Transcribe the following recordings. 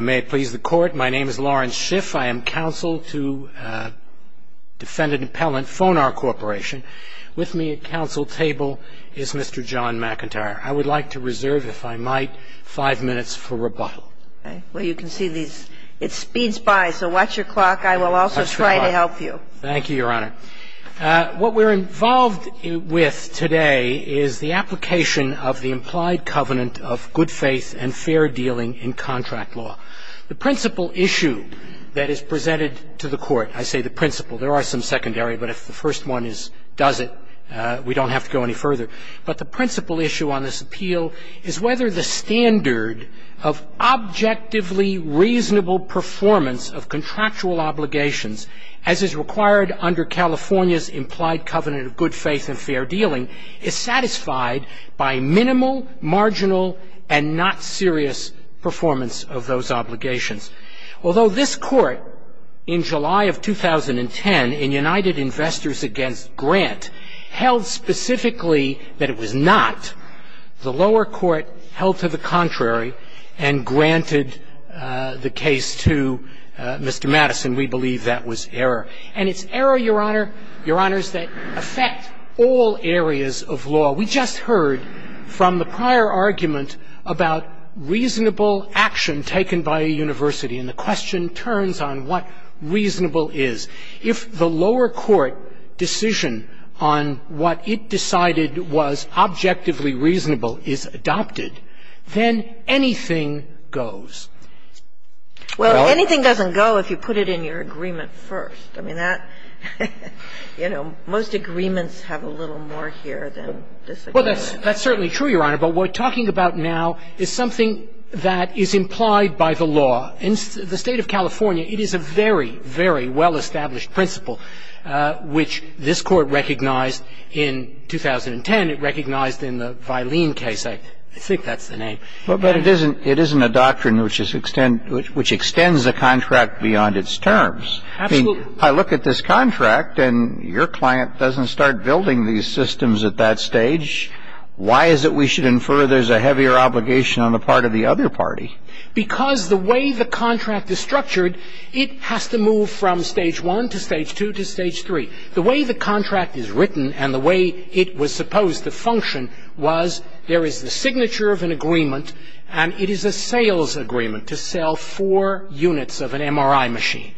May it please the court, my name is Lawrence Schiff. I am counsel to defendant-appellant Fonar Corporation. With me at counsel table is Mr. John McIntyre. I would like to reserve, if I might, five minutes for rebuttal. Well, you can see it speeds by, so watch your clock. I will also try to help you. Thank you, Your Honor. What we're involved with today is the application of the implied covenant of good faith and fair dealing in contract law. The principal issue that is presented to the court, I say the principal. There are some secondary, but if the first one does it, we don't have to go any further. But the principal issue on this appeal is whether the standard of objectively reasonable performance of contractual obligations, as is required under California's implied covenant of good faith and fair dealing, is satisfied by minimal, marginal, and not serious performance of those obligations. Although this Court in July of 2010, in United Investors v. Grant, held specifically that it was not, the lower court held to the contrary and granted the case to Mr. Madison. We believe that was error. And it's error, Your Honor, Your Honors, that affects all areas of law. We just heard from the prior argument about reasonable action taken by a university. And the question turns on what reasonable is. If the lower court decision on what it decided was objectively reasonable is adopted, then anything goes. Well, anything doesn't go if you put it in your agreement first. I mean, that, you know, most agreements have a little more here than disagreements. Well, that's certainly true, Your Honor. But what we're talking about now is something that is implied by the law. In the State of California, it is a very, very well-established principle, which this Court recognized in 2010. It recognized in the Vylene case. I think that's the name. But it isn't a doctrine which extends the contract beyond its terms. Absolutely. I mean, I look at this contract, and your client doesn't start building these systems at that stage. Why is it we should infer there's a heavier obligation on the part of the other party? Because the way the contract is structured, it has to move from stage one to stage two to stage three. The way the contract is written and the way it was supposed to function was there is the signature of an agreement, and it is a sales agreement to sell four units of an MRI machine.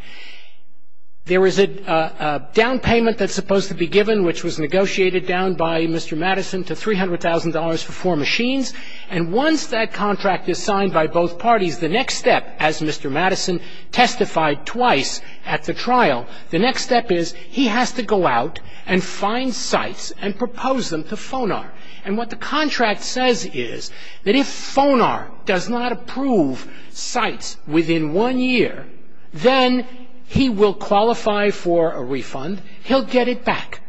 There is a down payment that's supposed to be given, which was negotiated down by Mr. Madison, to $300,000 for four machines. And once that contract is signed by both parties, the next step, as Mr. Madison testified twice at the trial, the next step is he has to go out and find sites and propose them to FONAR. And what the contract says is that if FONAR does not approve sites within one year, then he will qualify for a refund. He'll get it back.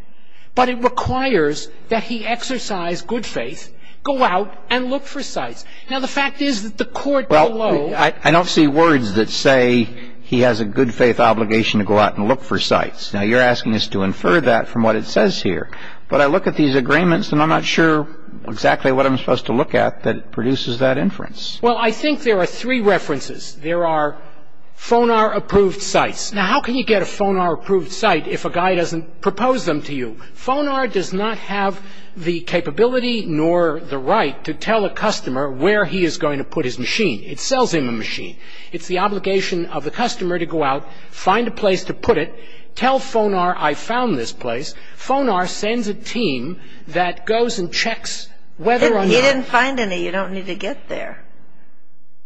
But it requires that he exercise good faith, go out and look for sites. Now, the fact is that the court below ---- Well, I don't see words that say he has a good faith obligation to go out and look for sites. Now, you're asking us to infer that from what it says here. But I look at these agreements, and I'm not sure exactly what I'm supposed to look at that produces that inference. Well, I think there are three references. There are FONAR-approved sites. Now, how can you get a FONAR-approved site if a guy doesn't propose them to you? FONAR does not have the capability nor the right to tell a customer where he is going to put his machine. It sells him a machine. It's the obligation of the customer to go out, find a place to put it, tell FONAR I found this place. FONAR sends a team that goes and checks whether or not ---- He didn't find any. You don't need to get there.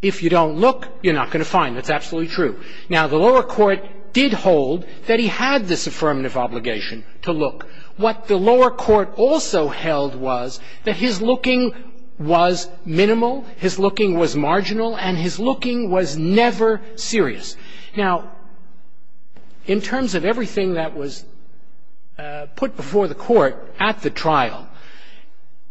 If you don't look, you're not going to find. That's absolutely true. Now, the lower court did hold that he had this affirmative obligation to look. What the lower court also held was that his looking was minimal, his looking was marginal, and his looking was never serious. Now, in terms of everything that was put before the court at the trial,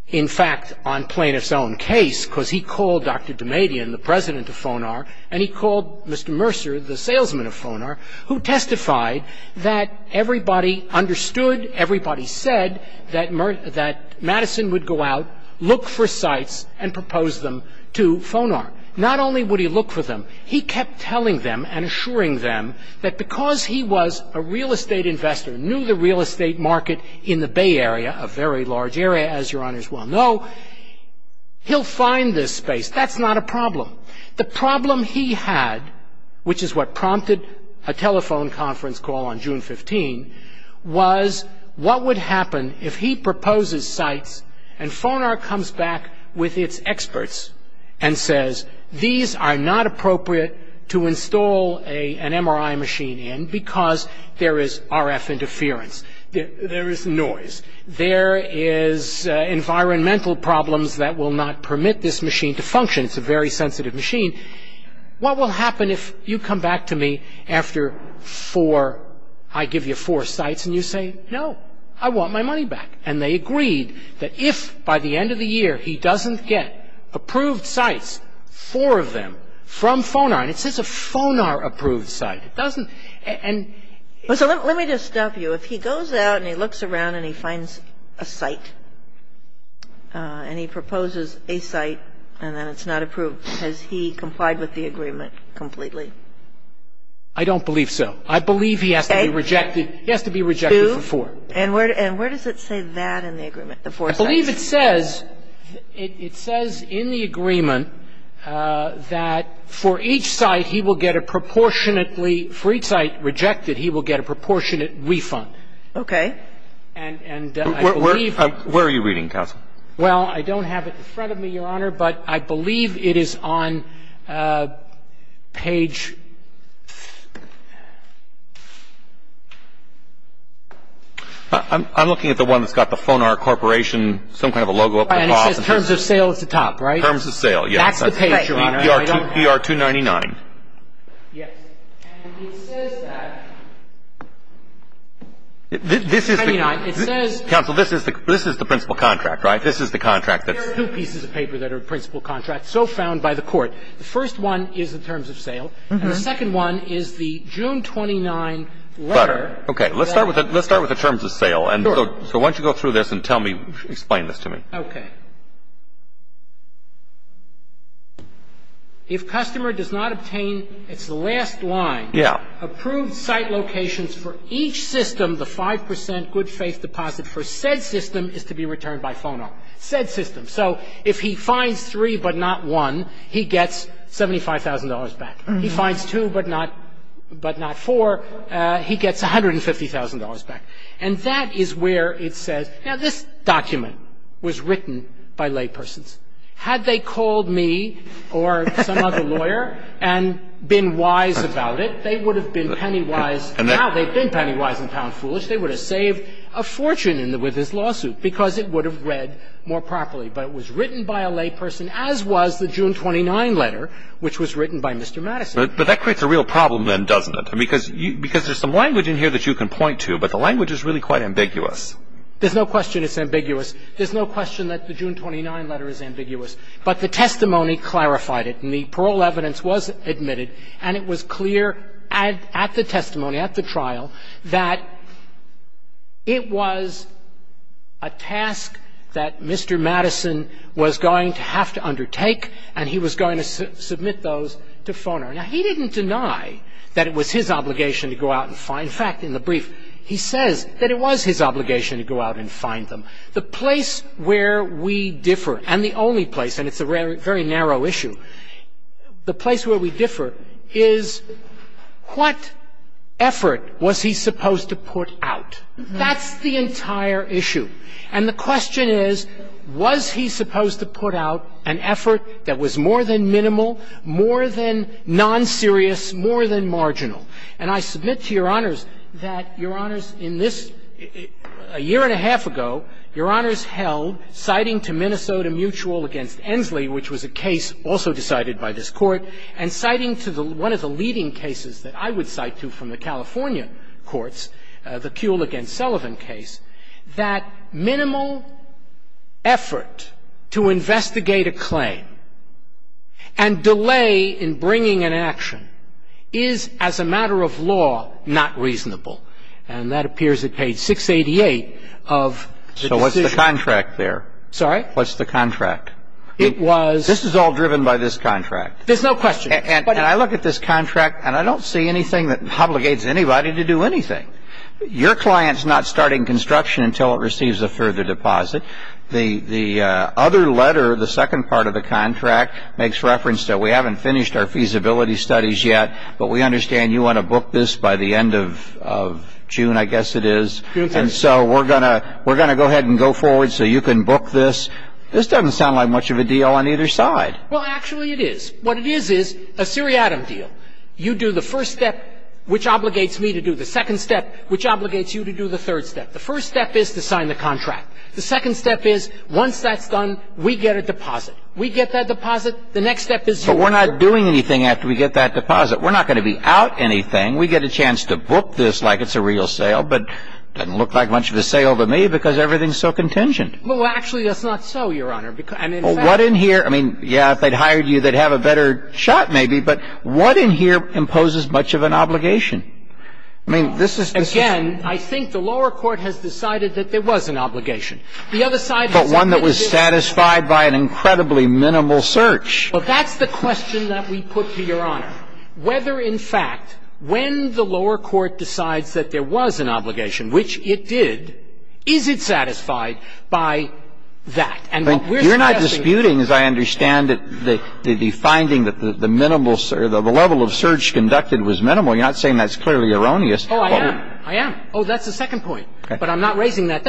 in fact, on plaintiff's own case, because he called Dr. Damadian, the president of FONAR, and he called Mr. Mercer, the salesman of FONAR, who testified that everybody understood, everybody said that Madison would go out, look for sites, and propose them to FONAR. Not only would he look for them, he kept telling them and assuring them that because he was a real estate investor, knew the real estate market in the Bay Area, a very large area, as your honors well know, he'll find this space. That's not a problem. The problem he had, which is what prompted a telephone conference call on June 15, was what would happen if he proposes sites and FONAR comes back with its experts and says, these are not appropriate to install an MRI machine in because there is RF interference. There is noise. There is environmental problems that will not permit this machine to function. It's a very sensitive machine. What will happen if you come back to me after four, I give you four sites, and you say, no, I want my money back? And they agreed that if by the end of the year he doesn't get approved sites, four of them from FONAR, and it says a FONAR-approved site. It doesn't and so let me just stop you. If he goes out and he looks around and he finds a site and he proposes a site and then it's not approved, has he complied with the agreement completely? I don't believe so. I believe he has to be rejected. He has to be rejected for four. And where does it say that in the agreement, the four sites? I believe it says, it says in the agreement that for each site he will get a proportionately ‑‑ for each site rejected, he will get a proportionate refund. Okay. Where are you reading, counsel? Well, I don't have it in front of me, Your Honor, but I believe it is on page ‑‑ I'm looking at the one that's got the FONAR Corporation, some kind of a logo up the top. It says terms of sale at the top, right? Terms of sale, yes. That's the page, Your Honor. ER 299. Yes. And it says that. This is the ‑‑ It says ‑‑ Counsel, this is the principal contract, right? This is the contract that's ‑‑ There are two pieces of paper that are principal contracts, so found by the court. The first one is the terms of sale. And the second one is the June 29 letter. Okay. Let's start with the terms of sale. Sure. So why don't you go through this and tell me, explain this to me. Okay. If customer does not obtain its last line. Yeah. Approved site locations for each system, the 5 percent good faith deposit for said system is to be returned by FONAR. Said system. So if he finds three but not one, he gets $75,000 back. He finds two but not four, he gets $150,000 back. And that is where it says ‑‑ Now, this document was written by laypersons. Had they called me or some other lawyer and been wise about it, they would have been penny wise. Now, they've been penny wise and found foolish. They would have saved a fortune with this lawsuit because it would have read more properly. But it was written by a layperson, as was the June 29 letter, which was written by Mr. Madison. But that creates a real problem then, doesn't it? Because there's some language in here that you can point to, but the language is really quite ambiguous. There's no question it's ambiguous. There's no question that the June 29 letter is ambiguous. But the testimony clarified it. And the parole evidence was admitted. And it was clear at the testimony, at the trial, that it was a task that Mr. Madison was going to have to undertake, and he was going to submit those to Foner. Now, he didn't deny that it was his obligation to go out and find ‑‑ in fact, in the brief, he says that it was his obligation to go out and find them. The place where we differ, and the only place, and it's a very narrow issue, the place where we differ is what effort was he supposed to put out? That's the entire issue. And the question is, was he supposed to put out an effort that was more than minimal, more than nonserious, more than marginal? And I submit to Your Honors that, Your Honors, in this ‑‑ a year and a half ago, Your Honors held, citing to Minnesota Mutual v. Ensley, which was a case also decided by this Court, and citing to one of the leading cases that I would cite to from the California courts, the Kuehl v. Sullivan case, that minimal effort to investigate a claim and delay in bringing an action is, as a matter of law, not reasonable. And that appears at page 688 of ‑‑ So what's the contract there? Sorry? What's the contract? It was ‑‑ This is all driven by this contract. There's no question. And I look at this contract, and I don't see anything that obligates anybody to do anything. Your client's not starting construction until it receives a further deposit. The other letter, the second part of the contract, makes reference to, we haven't finished our feasibility studies yet, but we understand you want to book this by the end of June, I guess it is. And so we're going to go ahead and go forward so you can book this. This doesn't sound like much of a deal on either side. Well, actually, it is. What it is is a seriatim deal. You do the first step, which obligates me to do the second step, which obligates you to do the third step. The first step is to sign the contract. The second step is, once that's done, we get a deposit. We get that deposit. The next step is you. But we're not doing anything after we get that deposit. We're not going to be out anything. We get a chance to book this like it's a real sale, but it doesn't look like much of a sale to me because everything's so contingent. Well, actually, that's not so, Your Honor. What in here – I mean, yeah, if they'd hired you, they'd have a better shot maybe, but what in here imposes much of an obligation? I mean, this is the – Again, I think the lower court has decided that there was an obligation. The other side – But one that was satisfied by an incredibly minimal search. Well, that's the question that we put to Your Honor. Whether, in fact, when the lower court decides that there was an obligation, which it did, is it satisfied by that? And we're discussing – You're not disputing, as I understand it, the finding that the minimal – the level of search conducted was minimal. You're not saying that's clearly erroneous. Oh, I am. I am. Oh, that's the second point. But I'm not raising that.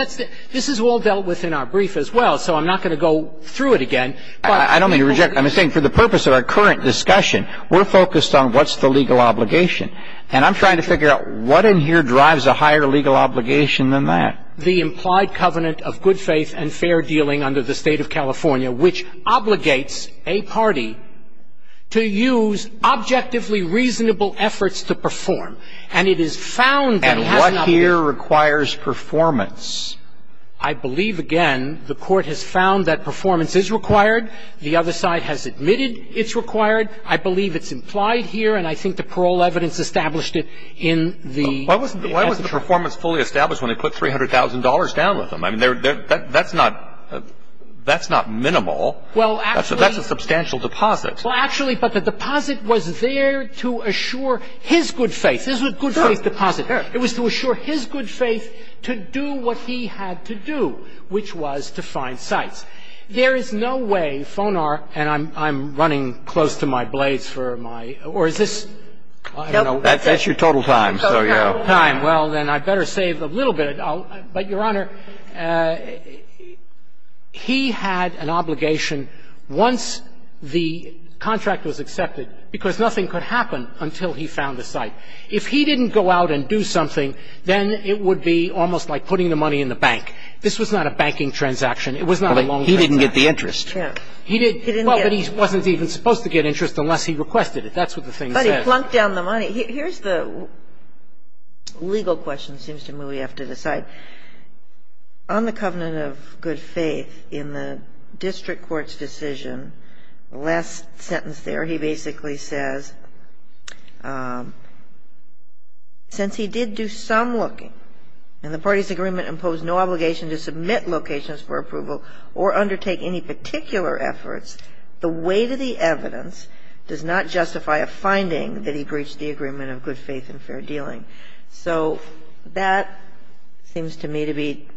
This is all dealt with in our brief as well, so I'm not going to go through it again. I don't mean to reject – I'm saying for the purpose of our current discussion, we're focused on what's the legal obligation. And I'm trying to figure out what in here drives a higher legal obligation than that. The implied covenant of good faith and fair dealing under the State of California, which obligates a party to use objectively reasonable efforts to perform. And it is found that it has not – And what here requires performance? I believe, again, the Court has found that performance is required. The other side has admitted it's required. I believe it's implied here. And I think the parole evidence established it in the – Why was the performance fully established when they put $300,000 down with them? I mean, that's not – that's not minimal. Well, actually – That's a substantial deposit. Well, actually, but the deposit was there to assure his good faith. This was a good faith deposit. It was to assure his good faith to do what he had to do, which was to find sites. There is no way Fonar – and I'm running close to my blades for my – or is this – That's your total time. Total time. Total time. Well, then I better save a little bit. But, Your Honor, he had an obligation once the contract was accepted, because nothing could happen until he found a site. If he didn't go out and do something, then it would be almost like putting the money in the bank. This was not a banking transaction. It was not a long transaction. But he didn't get the interest. He didn't get – Well, but he wasn't even supposed to get interest unless he requested it. That's what the thing says. But he plunked down the money. Here's the legal question, it seems to me, we have to decide. On the covenant of good faith, in the district court's decision, the last sentence there, he basically says, since he did do some looking and the party's agreement imposed no obligation to submit locations for approval or undertake any particular efforts, the weight of the evidence does not justify a finding that he breached the agreement of good faith and fair dealing. So that seems to me to be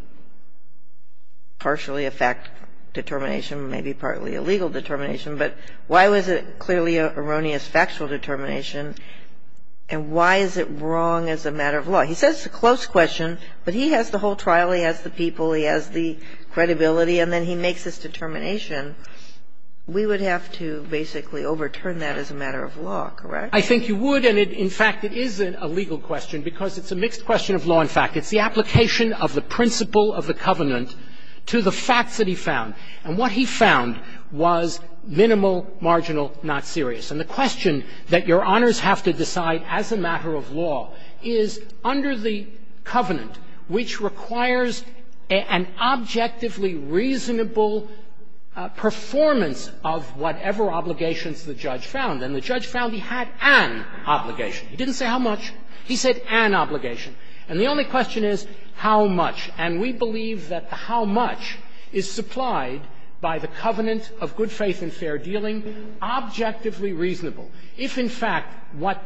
partially a fact determination, maybe partly a legal determination. But why was it clearly an erroneous factual determination, and why is it wrong as a matter of law? He says it's a close question, but he has the whole trial, he has the people, he has the credibility, and then he makes this determination. We would have to basically overturn that as a matter of law, correct? I think you would. And in fact, it is a legal question because it's a mixed question of law and fact. It's the application of the principle of the covenant to the facts that he found. And what he found was minimal, marginal, not serious. And the question that Your Honors have to decide as a matter of law is under the covenant, which requires an objectively reasonable performance of whatever obligations the judge found. And the judge found he had an obligation. He didn't say how much. He said an obligation. And the only question is how much. And we believe that the how much is supplied by the covenant of good faith and fair dealing, objectively reasonable. If, in fact, what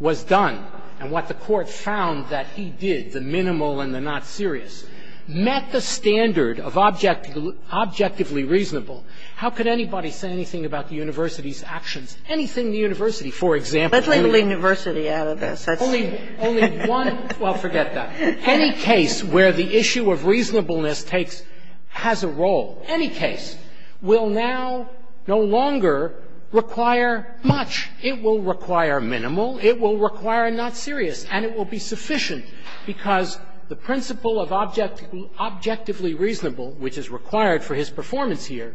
was done and what the Court found that he did, the minimal and the not serious, met the standard of objectively reasonable, how could anybody say anything about the university's actions? Anything the university, for example. Kagan Let's leave the university out of this. That's the point. Well, forget that. Any case where the issue of reasonableness takes – has a role, any case, will now no longer require much. It will require minimal. It will require not serious. And it will be sufficient because the principle of objectively reasonable, which is required for his performance here,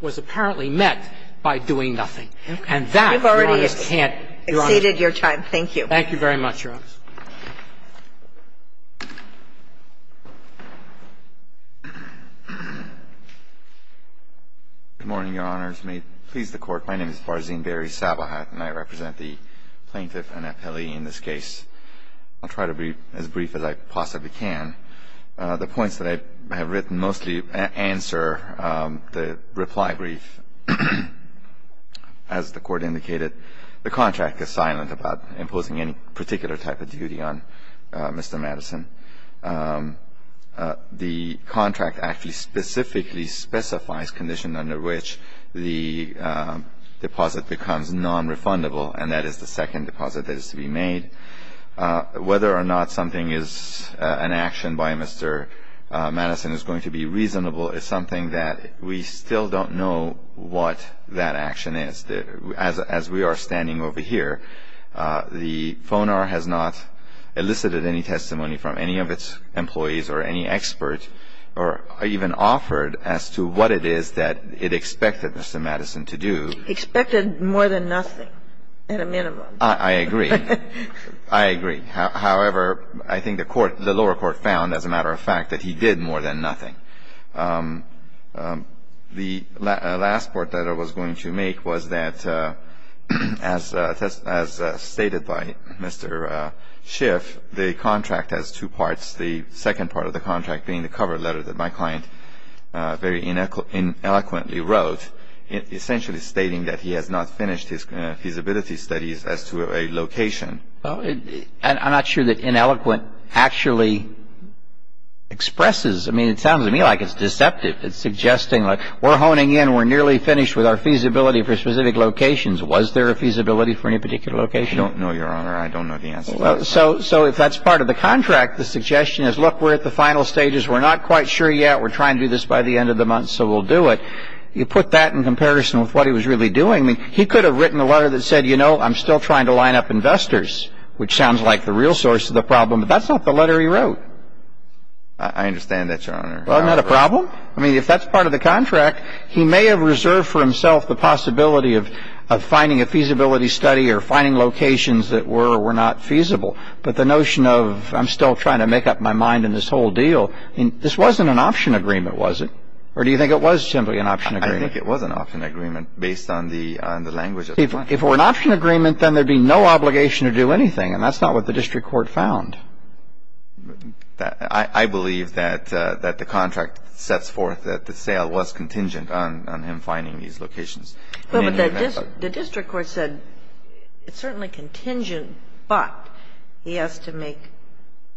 was apparently met by doing nothing. And that, Your Honor, can't do. Kagan You've already exceeded your time. Thank you. Barzine-Berry Thank you very much, Your Honor. Barzine-Berry Good morning, Your Honors. May it please the Court, my name is Barzine-Berry Sabahat, and I represent the plaintiff and appellee in this case. I'll try to be as brief as I possibly can. The points that I have written mostly answer the reply brief. As the Court indicated, the contract is silent about imposing any particular type of duty on Mr. Madison. The contract actually specifically specifies conditions under which the deposit becomes nonrefundable, and that is the second deposit that is to be made. Whether or not something is an action by Mr. Madison is going to be reasonable is something that we still don't know what that action is. As we are standing over here, the FONAR has not elicited any testimony from any of its employees or any expert or even offered as to what it is that it expected Mr. Madison to do. Kagan Barzine-Berry I agree. I agree. However, I think the lower court found, as a matter of fact, that he did more than nothing. The last report that I was going to make was that, as stated by Mr. Schiff, the contract has two parts, the second part of the contract being the cover letter that my client very eloquently wrote, essentially stating that he has not finished his feasibility studies as to a location. Well, I'm not sure that ineloquent actually expresses. I mean, it sounds to me like it's deceptive. It's suggesting, like, we're honing in. We're nearly finished with our feasibility for specific locations. Was there a feasibility for any particular location? I don't know, Your Honor. I don't know the answer to that. So if that's part of the contract, the suggestion is, look, we're at the final stages. We're not quite sure yet. We're trying to do this by the end of the month, so we'll do it. You put that in comparison with what he was really doing. I mean, he could have written a letter that said, you know, I'm still trying to line up investors, which sounds like the real source of the problem. But that's not the letter he wrote. I understand that, Your Honor. Well, not a problem. I mean, if that's part of the contract, he may have reserved for himself the possibility of finding a feasibility study or finding locations that were or were not feasible. But the notion of I'm still trying to make up my mind in this whole deal, I mean, this wasn't an option agreement, was it? Or do you think it was simply an option agreement? I think it was an option agreement based on the language of the contract. If it were an option agreement, then there'd be no obligation to do anything. And that's not what the district court found. I believe that the contract sets forth that the sale was contingent on him finding these locations. But the district court said it's certainly contingent, but he has to make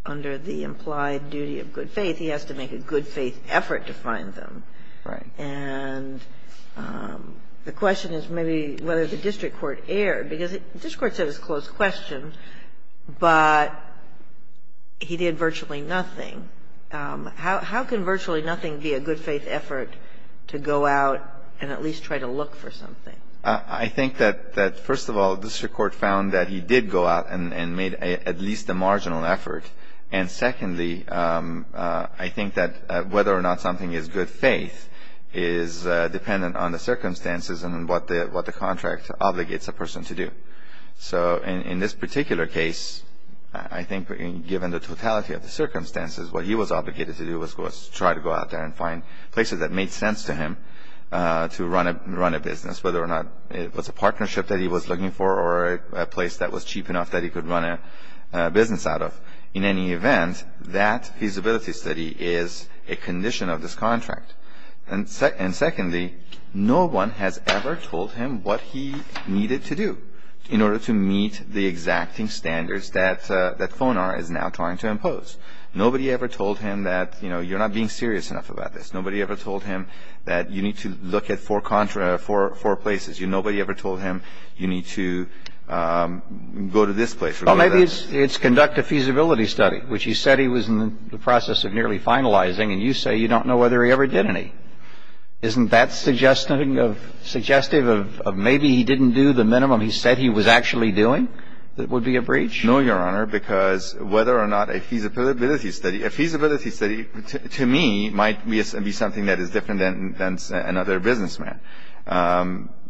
under the implied duty of good faith, he has to make a good faith effort to find them. Right. And the question is maybe whether the district court erred. Because the district court said it was a closed question, but he did virtually nothing. How can virtually nothing be a good faith effort to go out and at least try to look for something? I think that, first of all, the district court found that he did go out and made at least a marginal effort. And secondly, I think that whether or not something is good faith is dependent on the circumstances and what the contract obligates a person to do. So in this particular case, I think given the totality of the circumstances, what he was obligated to do was try to go out there and find places that made sense to him to run a business, whether or not it was a partnership that he was looking for or a place that was cheap enough that he could run a business out of. In any event, that feasibility study is a condition of this contract. And secondly, no one has ever told him what he needed to do in order to meet the exacting standards that FONAR is now trying to impose. Nobody ever told him that, you know, you're not being serious enough about this. Nobody ever told him that you need to look at four places. Nobody ever told him you need to go to this place or go to that place. Well, maybe it's conduct a feasibility study, which he said he was in the process of nearly finalizing, and you say you don't know whether he ever did any. Isn't that suggestive of maybe he didn't do the minimum he said he was actually doing that would be a breach? No, Your Honor, because whether or not a feasibility study – a feasibility study, to me, might be something that is different than another businessman.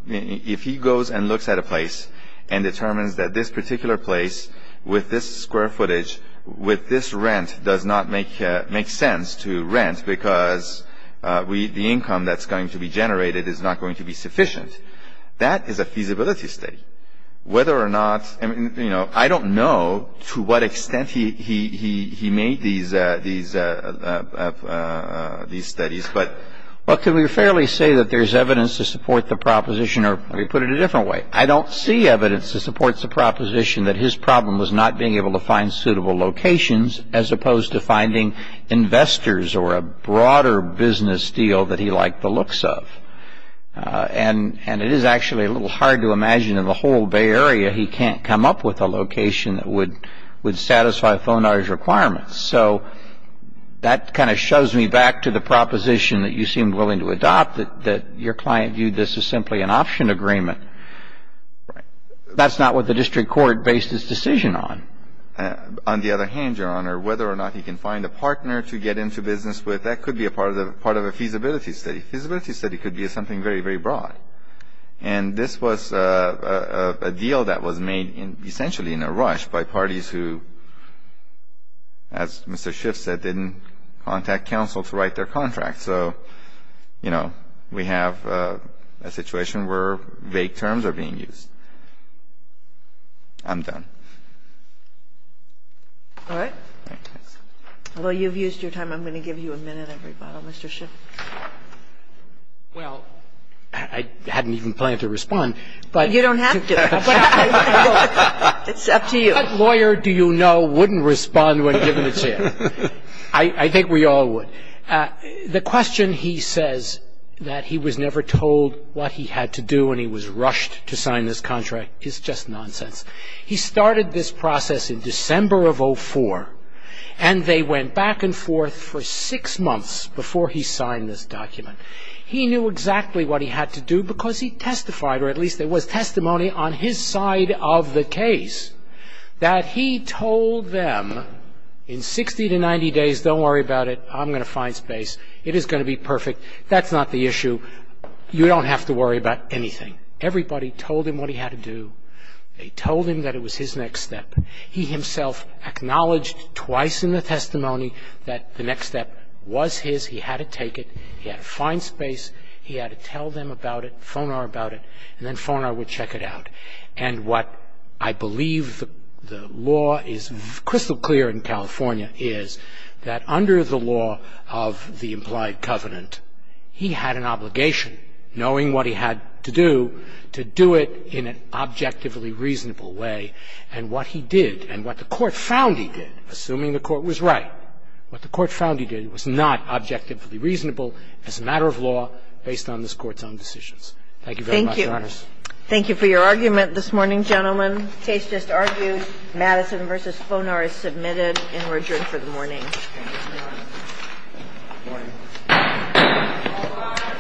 If he goes and looks at a place and determines that this particular place with this square footage, with this rent, does not make sense to rent because the income that's going to be generated is not going to be sufficient, that is a feasibility study. Whether or not – I mean, you know, I don't know to what extent he made these studies. Well, can we fairly say that there's evidence to support the proposition? Or let me put it a different way. I don't see evidence that supports the proposition that his problem was not being able to find suitable locations as opposed to finding investors or a broader business deal that he liked the looks of. And it is actually a little hard to imagine in the whole Bay Area he can't come up with a location that would satisfy Fonar's requirements. So that kind of shoves me back to the proposition that you seemed willing to adopt, that your client viewed this as simply an option agreement. Right. That's not what the district court based its decision on. On the other hand, Your Honor, whether or not he can find a partner to get into business with, that could be a part of a feasibility study. A feasibility study could be something very, very broad. And this was a deal that was made essentially in a rush by parties who, as Mr. Schiff said, didn't contact counsel to write their contract. So, you know, we have a situation where vague terms are being used. I'm done. All right. Although you've used your time, I'm going to give you a minute, Mr. Schiff. Well, I hadn't even planned to respond. You don't have to. It's up to you. What lawyer do you know wouldn't respond when given a chance? I think we all would. The question he says that he was never told what he had to do and he was rushed to sign this contract is just nonsense. He started this process in December of 04, and they went back and forth for six months before he signed this document. He knew exactly what he had to do because he testified, or at least there was testimony on his side of the case, that he told them in 60 to 90 days, don't worry about it, I'm going to find space, it is going to be perfect, that's not the issue, you don't have to worry about anything. Everybody told him what he had to do. They told him that it was his next step. He himself acknowledged twice in the testimony that the next step was his. He had to take it. He had to find space. He had to tell them about it, Fonar about it, and then Fonar would check it out. And what I believe the law is crystal clear in California is that under the law of the implied covenant, he had an obligation, knowing what he had to do, to do it in an objectively reasonable way. And what he did and what the Court found he did, assuming the Court was right, what the Court found he did was not objectively reasonable as a matter of law based on this Court's own decisions. Thank you very much, Your Honors. Thank you. Thank you for your argument this morning, gentlemen. The case just argued. Madison v. Fonar is submitted and we're adjourned for the morning. Good morning. Good morning.